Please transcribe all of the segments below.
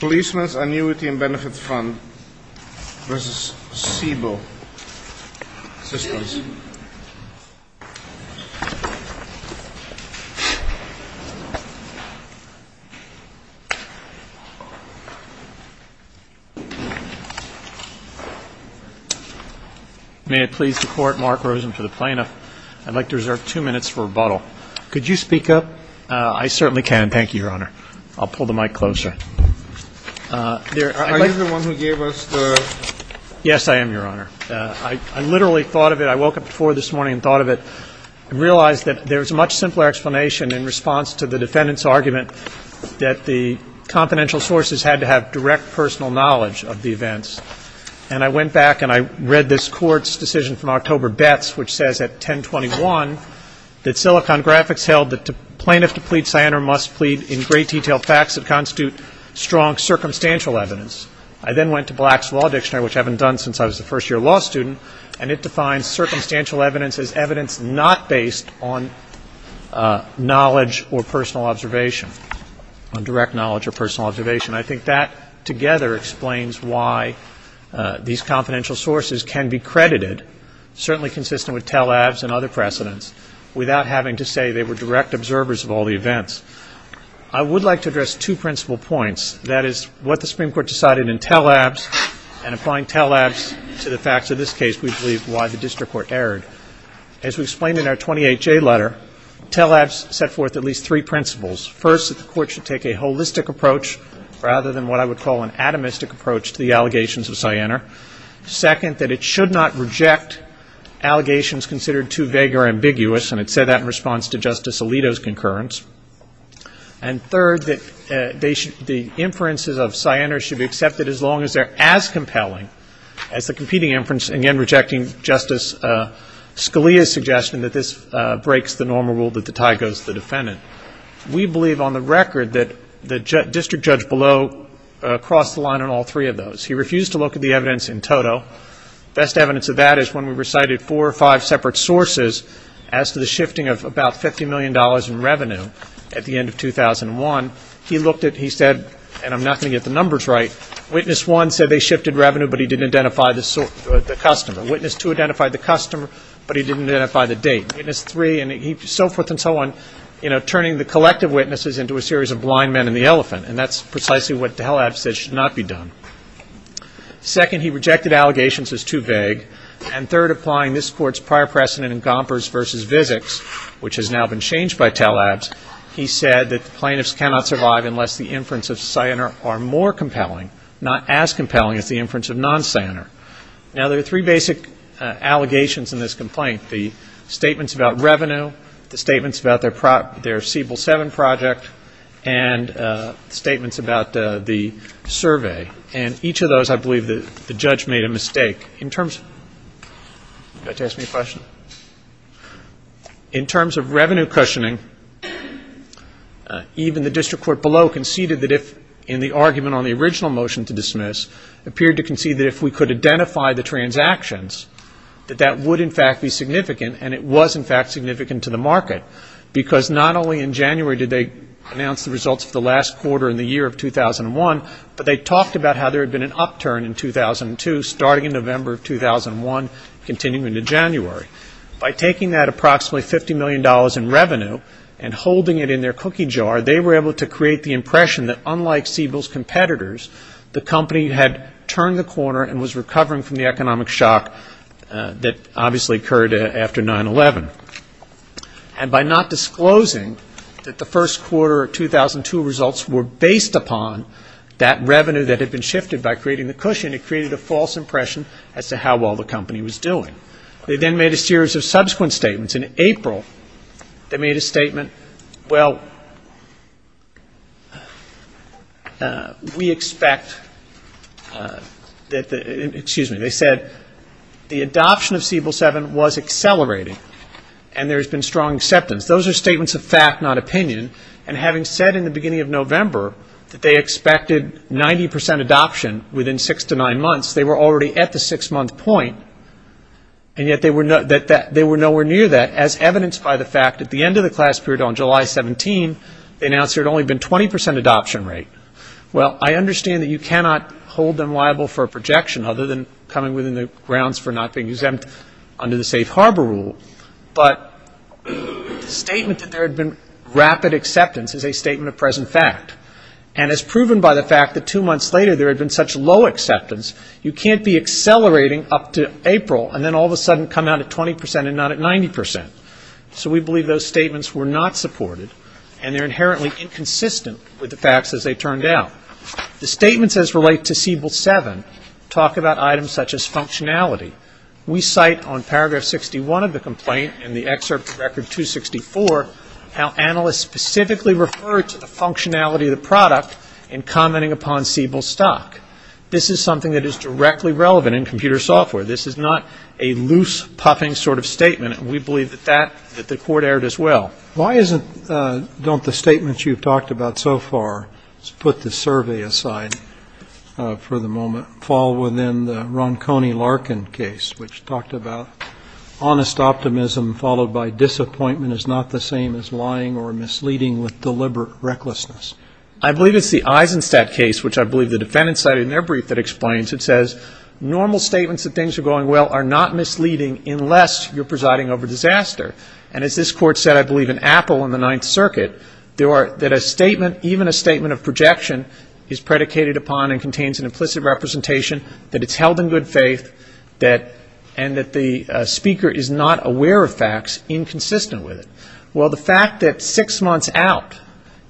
Policeman's Annuity and Benefit Fund v. Siebel Systems. May it please the Court, Mark Rosen for the plaintiff. I'd like to reserve two minutes for rebuttal. Could you speak up? I certainly can. Thank you, Your Honor. I'll pull the mic closer. Are you the one who gave us the Yes, I am, Your Honor. I literally thought of it. I woke up before this morning and thought of it and realized that there was a much simpler explanation in response to the defendant's argument that the confidential sources had to have direct personal knowledge of the events. And I went back and I read this Court's decision from October Betts, which says at 1021 that Silicon Graphics held that the plaintiff to plead cyanide must plead in great detail facts that constitute strong circumstantial evidence. I then went to Black's Law Dictionary, which I haven't done since I was a first-year law student, and it defines circumstantial evidence as evidence not based on knowledge or personal observation, on direct knowledge or personal observation. I think that together explains why these confidential sources can be credited, certainly consistent with Tel-Avs and other precedents, without having to say they were direct observers of all the events. I would like to address two principal points. That is, what the Supreme Court decided in Tel-Avs and applying Tel-Avs to the facts of this case, we believe, why the district court erred. As we explained in our 28-J letter, Tel-Avs set forth at least three principles. First, that the Court should take a holistic approach rather than what I would call an atomistic approach to the allegations of cyanide. Second, that it should not reject allegations considered too vague or ambiguous, and it said that in response to Justice Alito's concurrence. And third, that the inferences of cyanide should be accepted as long as they're as compelling as the competing inference, again rejecting Justice Scalia's suggestion that this breaks the normal rule that the tie goes to the defendant. We believe on the record that the district judge below crossed the line on all three of those. He refused to look at the evidence in total. Best evidence of that is when we recited four or five separate sources as to the shifting of about $50 million in revenue at the end of 2001. He looked at it and he said, and I'm not going to get the numbers right, witness one said they shifted revenue, but he didn't identify the customer. Witness two identified the customer, but he didn't identify the date. Witness three and so forth and so on, you know, turning the collective witnesses into a series of blind men and the elephant, and that's precisely what Talab said should not be done. Second, he rejected allegations as too vague. And third, applying this Court's prior precedent in Gompers v. Vizics, which has now been changed by Talab's, he said that the plaintiffs cannot survive unless the inference of cyanide are more compelling, not as compelling as the inference of non-cyanide. Now, there are three basic allegations in this complaint, the statements about revenue, the statements about their Siebel 7 project, and statements about the survey. And each of those I believe the judge made a mistake. In terms of revenue cushioning, even the district court below conceded that if, in the argument on the original motion to dismiss, appeared to concede that if we could identify the transactions, that that would in fact be significant, and it was in fact significant to the market. Because not only in January did they announce the results of the last quarter in the year of 2001, but they talked about how there had been an upturn in 2002, starting in November of 2001, continuing into January. By taking that approximately $50 million in revenue and holding it in their cookie jar, they were able to create the impression that unlike Siebel's competitors, the company had turned the corner and was recovering from the economic shock that obviously occurred after 9-11. And by not disclosing that the first quarter of 2002 results were based upon that revenue that had been shifted by creating the cushion, it created a false impression as to how well the company was doing. They then made a series of subsequent statements. In April, they made a statement, well, we expect that the, excuse me, they said the adoption of Siebel 7 was accelerating and there has been strong acceptance. Those are statements of fact, not opinion. And having said in the beginning of November that they expected 90% adoption within six to nine months, they were already at the six-month point and yet they were nowhere near that as evidenced by the fact at the end of the class period on July 17, they announced there had only been 20% adoption rate. Well, I understand that you cannot hold them liable for a projection other than coming within the grounds for not being exempt under the safe harbor rule, but the statement that there had been rapid acceptance is a statement of present fact. And as proven by the fact that two months later there had been such low acceptance, you can't be accelerating up to April and then all of a sudden come out at 20% and not at 90%. So we believe those statements were not supported and they're inherently inconsistent with the facts as they turned out. The statements as related to Siebel 7 talk about items such as functionality. We cite on paragraph 61 of the complaint and the excerpt of record 264 how analysts specifically referred to the functionality of the product in commenting upon Siebel's stock. This is something that is directly relevant in computer software. This is not a loose, puffing sort of statement and we believe that the court erred as well. Why don't the statements you've talked about so far, let's put the survey aside for the moment, fall within the Ronconi-Larkin case which talked about honest optimism followed by disappointment and is not the same as lying or misleading with deliberate recklessness. I believe it's the Eisenstadt case, which I believe the defendants cited in their brief that explains. It says normal statements that things are going well are not misleading unless you're presiding over disaster. And as this Court said, I believe, in Apple in the Ninth Circuit, that a statement, even a statement of projection, is predicated upon and contains an implicit representation that it's held in good faith and that the speaker is not aware of facts inconsistent with it. Well, the fact that six months out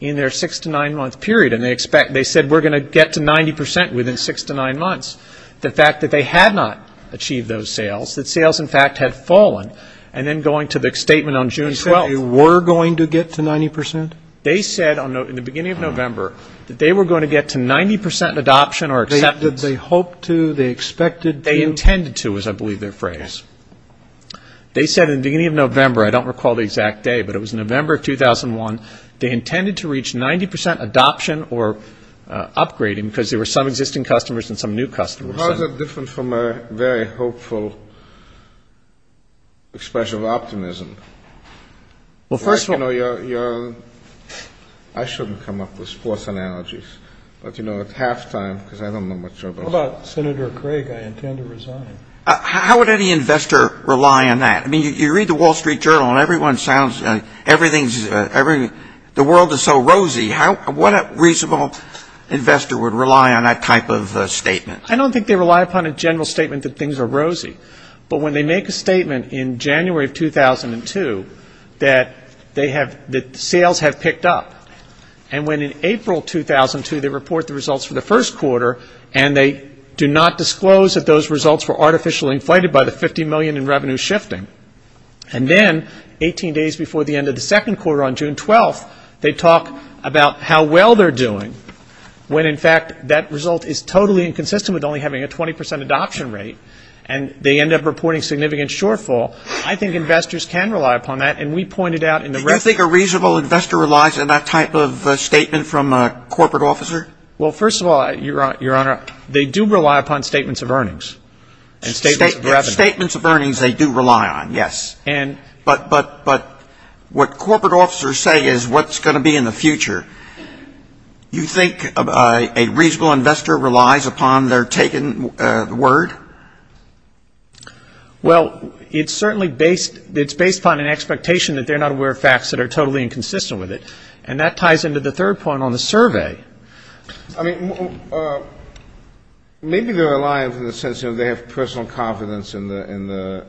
in their six to nine month period, and they said we're going to get to 90% within six to nine months, the fact that they had not achieved those sales, that sales in fact had fallen, and then going to the statement on June 12th. They said they were going to get to 90%? They said in the beginning of November that they were going to get to 90% adoption or acceptance. Did they hope to? They expected to? They intended to is, I believe, their phrase. They said in the beginning of November, I don't recall the exact day, but it was November of 2001, they intended to reach 90% adoption or upgrading because there were some existing customers and some new customers. How is that different from a very hopeful expression of optimism? Well, first of all, I shouldn't come up with sports analogies, but, you know, at halftime, because I don't know much about it. How about Senator Craig? I intend to resign. How would any investor rely on that? I mean, you read the Wall Street Journal, and everyone sounds like everything's, the world is so rosy. What reasonable investor would rely on that type of statement? I don't think they rely upon a general statement that things are rosy. But when they make a statement in January of 2002 that they have, that sales have picked up, and when in April 2002 they report the results for the first quarter, and they do not disclose that those results were artificially inflated by the 50 million in revenue shifting, and then 18 days before the end of the second quarter on June 12th, they talk about how well they're doing when, in fact, that result is totally inconsistent with only having a 20% adoption rate, and they end up reporting significant shortfall. I think investors can rely upon that, and we pointed out in the? Do you think a reasonable investor relies on that type of statement from a corporate officer? Well, first of all, Your Honor, they do rely upon statements of earnings and statements of revenue. Statements of earnings they do rely on, yes. But what corporate officers say is what's going to be in the future. You think a reasonable investor relies upon their taken word? Well, it's certainly based, it's based upon an expectation that they're not aware of facts that are totally inconsistent with it, and that ties into the third point on the survey. I mean, maybe they're reliant in the sense that they have personal confidence in the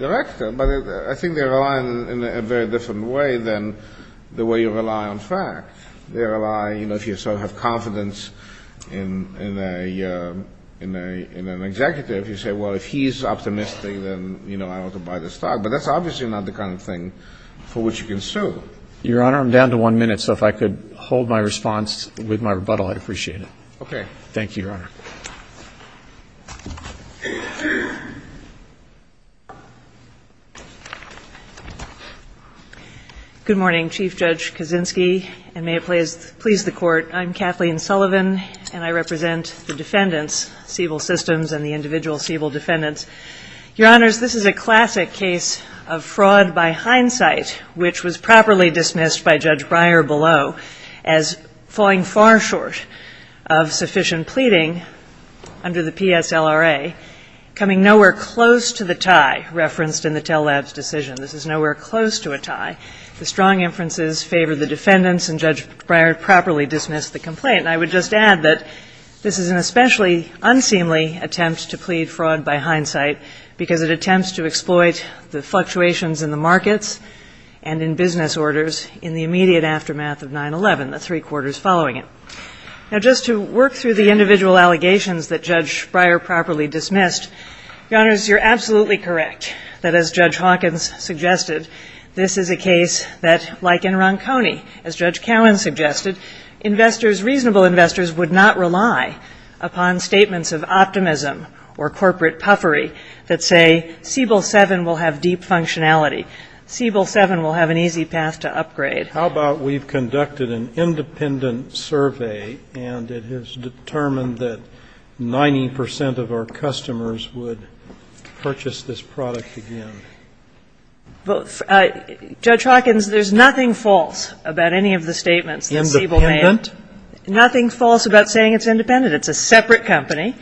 director, but I think they're reliant in a very different way than the way you rely on facts. You know, if you sort of have confidence in an executive, you say, well, if he's optimistic, then, you know, I ought to buy this stock. But that's obviously not the kind of thing for which you can sue. Your Honor, I'm down to one minute, so if I could hold my response with my rebuttal, I'd appreciate it. Okay. Thank you, Your Honor. Good morning, Chief Judge Kaczynski, and may it please the Court, I'm Kathleen Sullivan, and I represent the defendants, Siebel Systems and the individual Siebel defendants. Your Honors, this is a classic case of fraud by hindsight, which was properly dismissed by Judge Breyer below as falling far short of sufficient pleading under the PSLRA, coming nowhere close to the tie referenced in the tell-labs decision. This is nowhere close to a tie. The strong inferences favor the defendants, and Judge Breyer properly dismissed the complaint. And I would just add that this is an especially unseemly attempt to plead fraud by hindsight, because it attempts to exploit the fluctuations in the markets and in business orders in the immediate aftermath of 9-11, the three quarters following it. Now, just to work through the individual allegations that Judge Breyer properly dismissed, Your Honors, you're absolutely correct that, as Judge Hawkins suggested, this is a case that, like in Ronconi, as Judge Cowen suggested, investors, reasonable investors, would not rely upon statements of optimism or corporate puffery that say, Siebel 7 will have deep functionality, Siebel 7 will have an easy path to upgrade. How about we've conducted an independent survey, and it has determined that 90 percent of our customers would purchase this product again? Well, Judge Hawkins, there's nothing false about any of the statements that Siebel made. Independent? Nothing false about saying it's independent. It's a separate company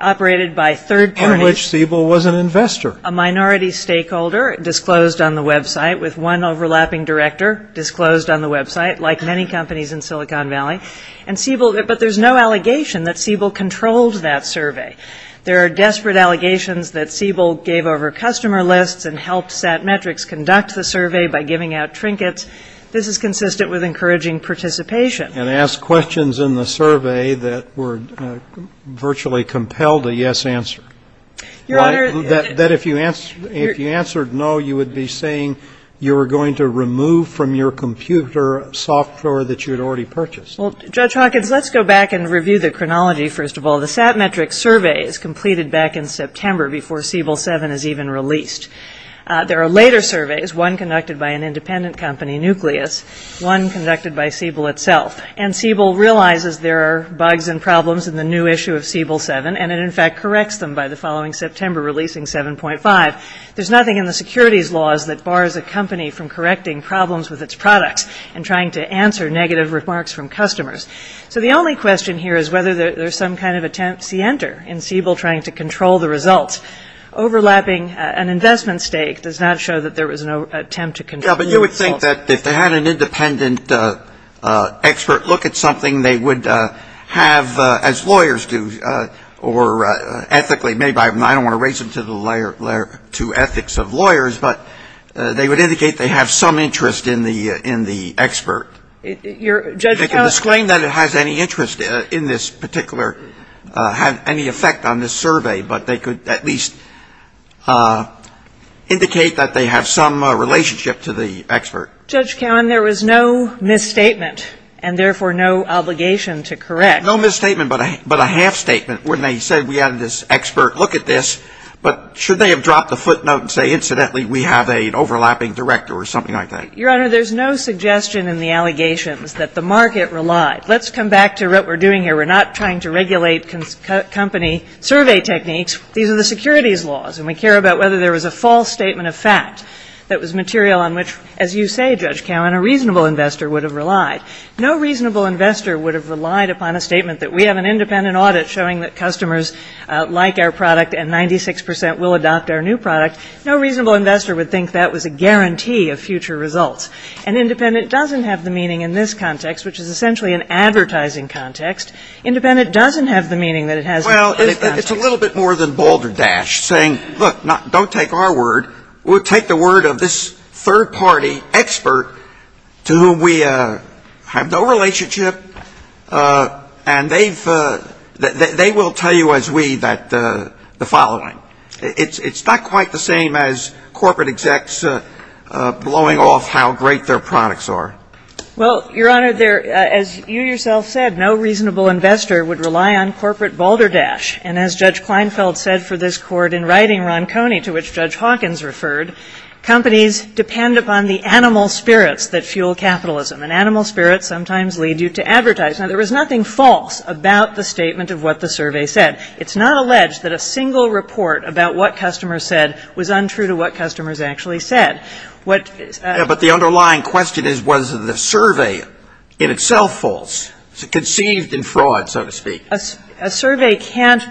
operated by third parties. On which Siebel was an investor. A minority stakeholder disclosed on the website with one overlapping director disclosed on the website, like many companies in Silicon Valley. And Siebel, but there's no allegation that Siebel controlled that survey. There are desperate allegations that Siebel gave over customer lists and helped Satmetrics conduct the survey by giving out trinkets. This is consistent with encouraging participation. And asked questions in the survey that were virtually compelled a yes answer. Your Honor. That if you answered no, you would be saying you were going to remove from your computer software that you had already purchased. Well, Judge Hawkins, let's go back and review the chronology, first of all. The Satmetrics survey is completed back in September before Siebel 7 is even released. There are later surveys, one conducted by an independent company, Nucleus, one conducted by Siebel itself. And Siebel realizes there are bugs and problems in the new issue of Siebel 7. And it, in fact, corrects them by the following September, releasing 7.5. There's nothing in the securities laws that bars a company from correcting problems with its products and trying to answer negative remarks from customers. So the only question here is whether there's some kind of attempt sienter in Siebel trying to control the results. Overlapping an investment stake does not show that there was no attempt to control the results. Yeah, but you would think that if they had an independent expert look at something, they would have, as lawyers do, or ethically, maybe I don't want to raise them to the ethics of lawyers, but they would indicate they have some interest in the expert. Your Judge, how I don't know that it has any interest in this particular, had any effect on this survey, but they could at least indicate that they have some relationship to the expert. Judge Cowen, there was no misstatement and, therefore, no obligation to correct. No misstatement, but a half-statement. When they said we had this expert look at this, but should they have dropped the footnote and say, incidentally, we have an overlapping director or something like that? Your Honor, there's no suggestion in the allegations that the market relied. Let's come back to what we're doing here. We're not trying to regulate company survey techniques. These are the securities laws, and we care about whether there was a false statement of fact that was material on which, as you say, Judge Cowen, a reasonable investor would have relied. No reasonable investor would have relied upon a statement that we have an independent audit showing that customers like our product and 96 percent will adopt our new product. No reasonable investor would think that was a guarantee of future results. And independent doesn't have the meaning in this context, which is essentially an advertising context. Independent doesn't have the meaning that it has in this context. Well, it's a little bit more than balderdash, saying, look, don't take our word. We'll take the word of this third-party expert to whom we have no relationship, and they will tell you as we that the following. It's not quite the same as corporate execs blowing off how great their products are. Well, Your Honor, as you yourself said, no reasonable investor would rely on corporate balderdash. And as Judge Kleinfeld said for this court in writing Ron Coney, to which Judge Hawkins referred, companies depend upon the animal spirits that fuel capitalism, and animal spirits sometimes lead you to advertise. Now, there was nothing false about the statement of what the survey said. It's not alleged that a single report about what customers said was untrue to what customers actually said. But the underlying question is, was the survey in itself false, conceived in fraud, so to speak? A survey can't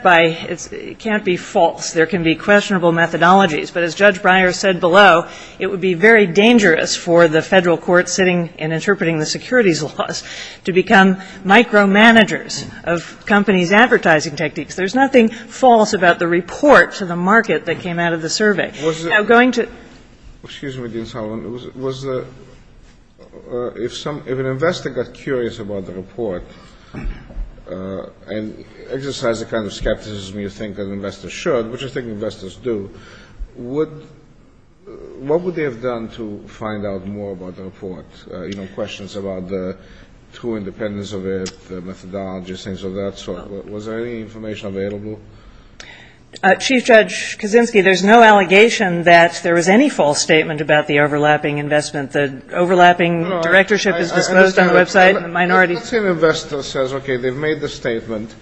be false. There can be questionable methodologies. But as Judge Breyer said below, it would be very dangerous for the federal court sitting and interpreting the securities laws to become micromanagers of companies' advertising techniques. There's nothing false about the report to the market that came out of the survey. Now, going to — Excuse me, Dean Sullivan. If an investor got curious about the report and exercised the kind of skepticism you think an investor should, which I think investors do, what would they have done to find out more about the report, you know, questions about the true independence of it, the methodologies, things of that sort? Was there any information available? Chief Judge Kaczynski, there's no allegation that there was any false statement about the overlapping investment. The overlapping directorship is disposed on the website and the minority — Let's say an investor says, okay, they've made the statement.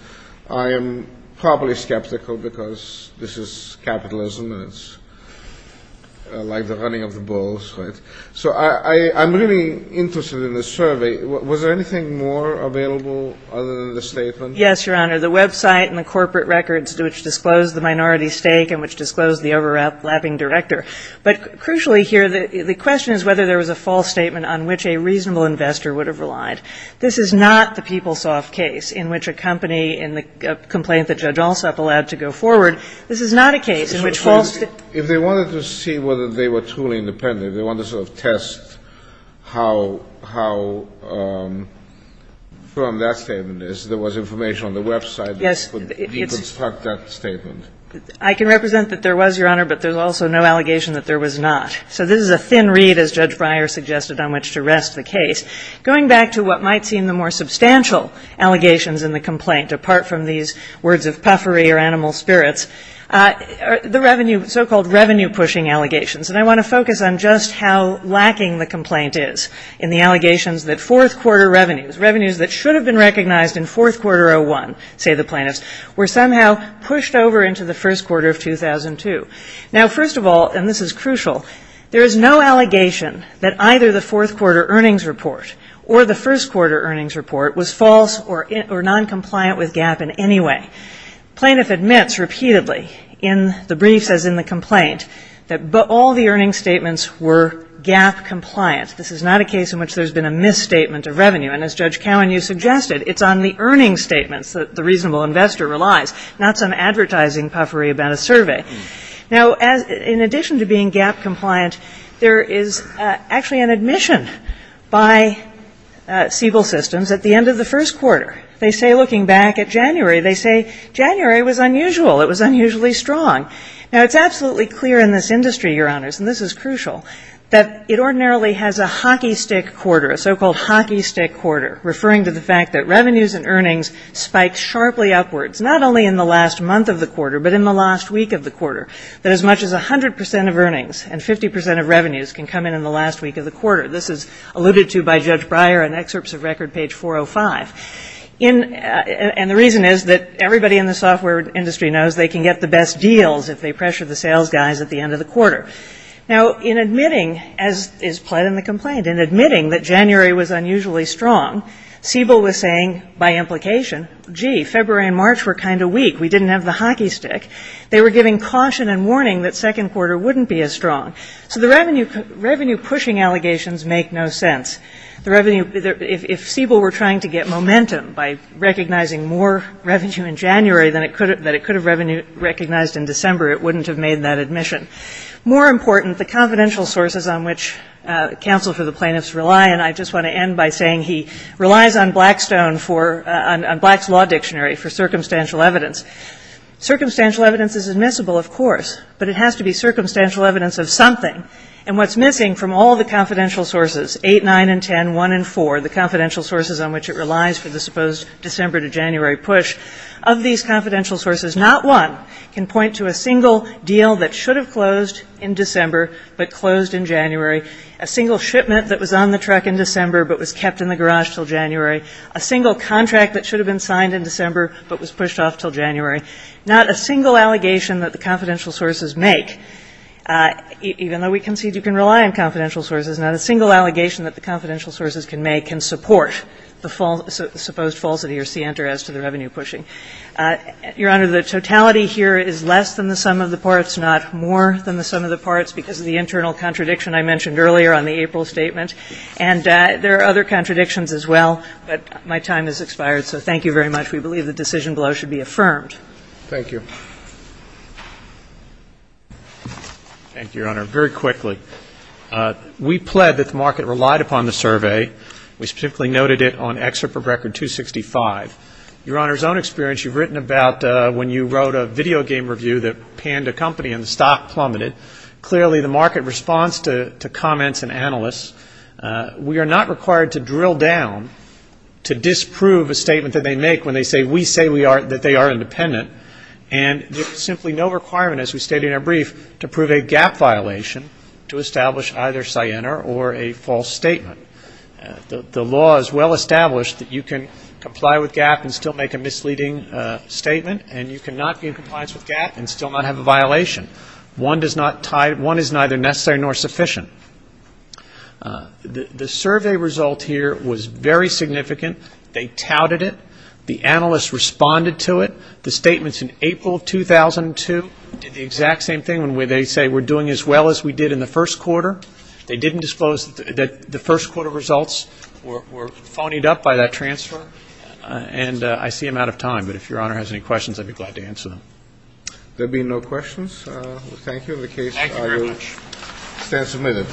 I am probably skeptical because this is capitalism and it's like the running of the bulls, right? So I'm really interested in the survey. Was there anything more available other than the statement? Yes, Your Honor. The website and the corporate records which disclosed the minority stake and which disclosed the overlapping director. But crucially here, the question is whether there was a false statement on which a reasonable investor would have relied. This is not the PeopleSoft case in which a company in the complaint that Judge Alsop allowed to go forward. This is not a case in which false — If they wanted to see whether they were truly independent, if they wanted to sort of test how firm that statement is, there was information on the website that could deconstruct that statement. I can represent that there was, Your Honor, but there's also no allegation that there was not. So this is a thin reed, as Judge Breyer suggested, on which to rest the case. Going back to what might seem the more substantial allegations in the complaint, apart from these words of puffery or animal spirits, the revenue — so-called revenue-pushing allegations. And I want to focus on just how lacking the complaint is in the allegations that fourth-quarter revenues, revenues that should have been recognized in fourth quarter 01, say the plaintiffs, were somehow pushed over into the first quarter of 2002. Now, first of all, and this is crucial, there is no allegation that either the fourth-quarter earnings report or the first-quarter earnings report was false or noncompliant with GAAP in any way. Plaintiff admits repeatedly in the briefs as in the complaint that all the earnings statements were GAAP-compliant. This is not a case in which there's been a misstatement of revenue. And as Judge Cowan, you suggested, it's on the earnings statements that the reasonable investor relies, not some advertising puffery about a survey. Now, in addition to being GAAP-compliant, there is actually an admission by Siebel Systems at the end of the first quarter. They say, looking back at January, they say January was unusual. It was unusually strong. Now, it's absolutely clear in this industry, Your Honors, and this is crucial, that it ordinarily has a hockey-stick quarter, a so-called hockey-stick quarter, referring to the fact that revenues and earnings spike sharply upwards, not only in the last month of the quarter but in the last week of the quarter, that as much as 100 percent of earnings and 50 percent of revenues can come in in the last week of the quarter. This is alluded to by Judge Breyer in excerpts of record page 405. And the reason is that everybody in the software industry knows they can get the best deals if they pressure the sales guys at the end of the quarter. Now, in admitting, as is pled in the complaint, in admitting that January was unusually strong, Siebel was saying, by implication, gee, February and March were kind of weak. We didn't have the hockey-stick. They were giving caution and warning that second quarter wouldn't be as strong. So the revenue-pushing allegations make no sense. If Siebel were trying to get momentum by recognizing more revenue in January than it could have recognized in December, it wouldn't have made that admission. More important, the confidential sources on which counsel for the plaintiffs rely, and I just want to end by saying he relies on Blackstone for, on Black's Law Dictionary for circumstantial evidence. Circumstantial evidence is admissible, of course, but it has to be circumstantial evidence of something. And what's missing from all the confidential sources, 8, 9, and 10, 1, and 4, the confidential sources on which it relies for the supposed December to January push, of these confidential sources not one can point to a single deal that should have closed in December but closed in January, a single shipment that was on the truck in December but was kept in the garage until January, a single contract that should have been signed in December but was pushed off until January, not a single allegation that the confidential sources make, even though we concede you can rely on confidential sources, not a single allegation that the confidential sources can make can support the supposed falsity or scienter as to the revenue pushing. Your Honor, the totality here is less than the sum of the parts, not more than the sum of the parts because of the internal contradiction I mentioned earlier on the April statement. And there are other contradictions as well, but my time has expired. So thank you very much. We believe the decision below should be affirmed. Thank you. Thank you, Your Honor. Very quickly, we pled that the market relied upon the survey. We specifically noted it on Excerpt from Record 265. Your Honor's own experience, you've written about when you wrote a video game review that panned a company and the stock plummeted. Clearly the market responds to comments and analysts. We are not required to drill down to disprove a statement that they make when they say, when we say that they are independent. And there's simply no requirement, as we stated in our brief, to prove a GAAP violation to establish either scienter or a false statement. The law is well established that you can comply with GAAP and still make a misleading statement, and you cannot gain compliance with GAAP and still not have a violation. One is neither necessary nor sufficient. The survey result here was very significant. They touted it. The analysts responded to it. The statements in April of 2002 did the exact same thing, when they say we're doing as well as we did in the first quarter. They didn't disclose that the first quarter results were phonied up by that transfer. And I see I'm out of time, but if Your Honor has any questions, I'd be glad to answer them. There being no questions, thank you. The case is submitted.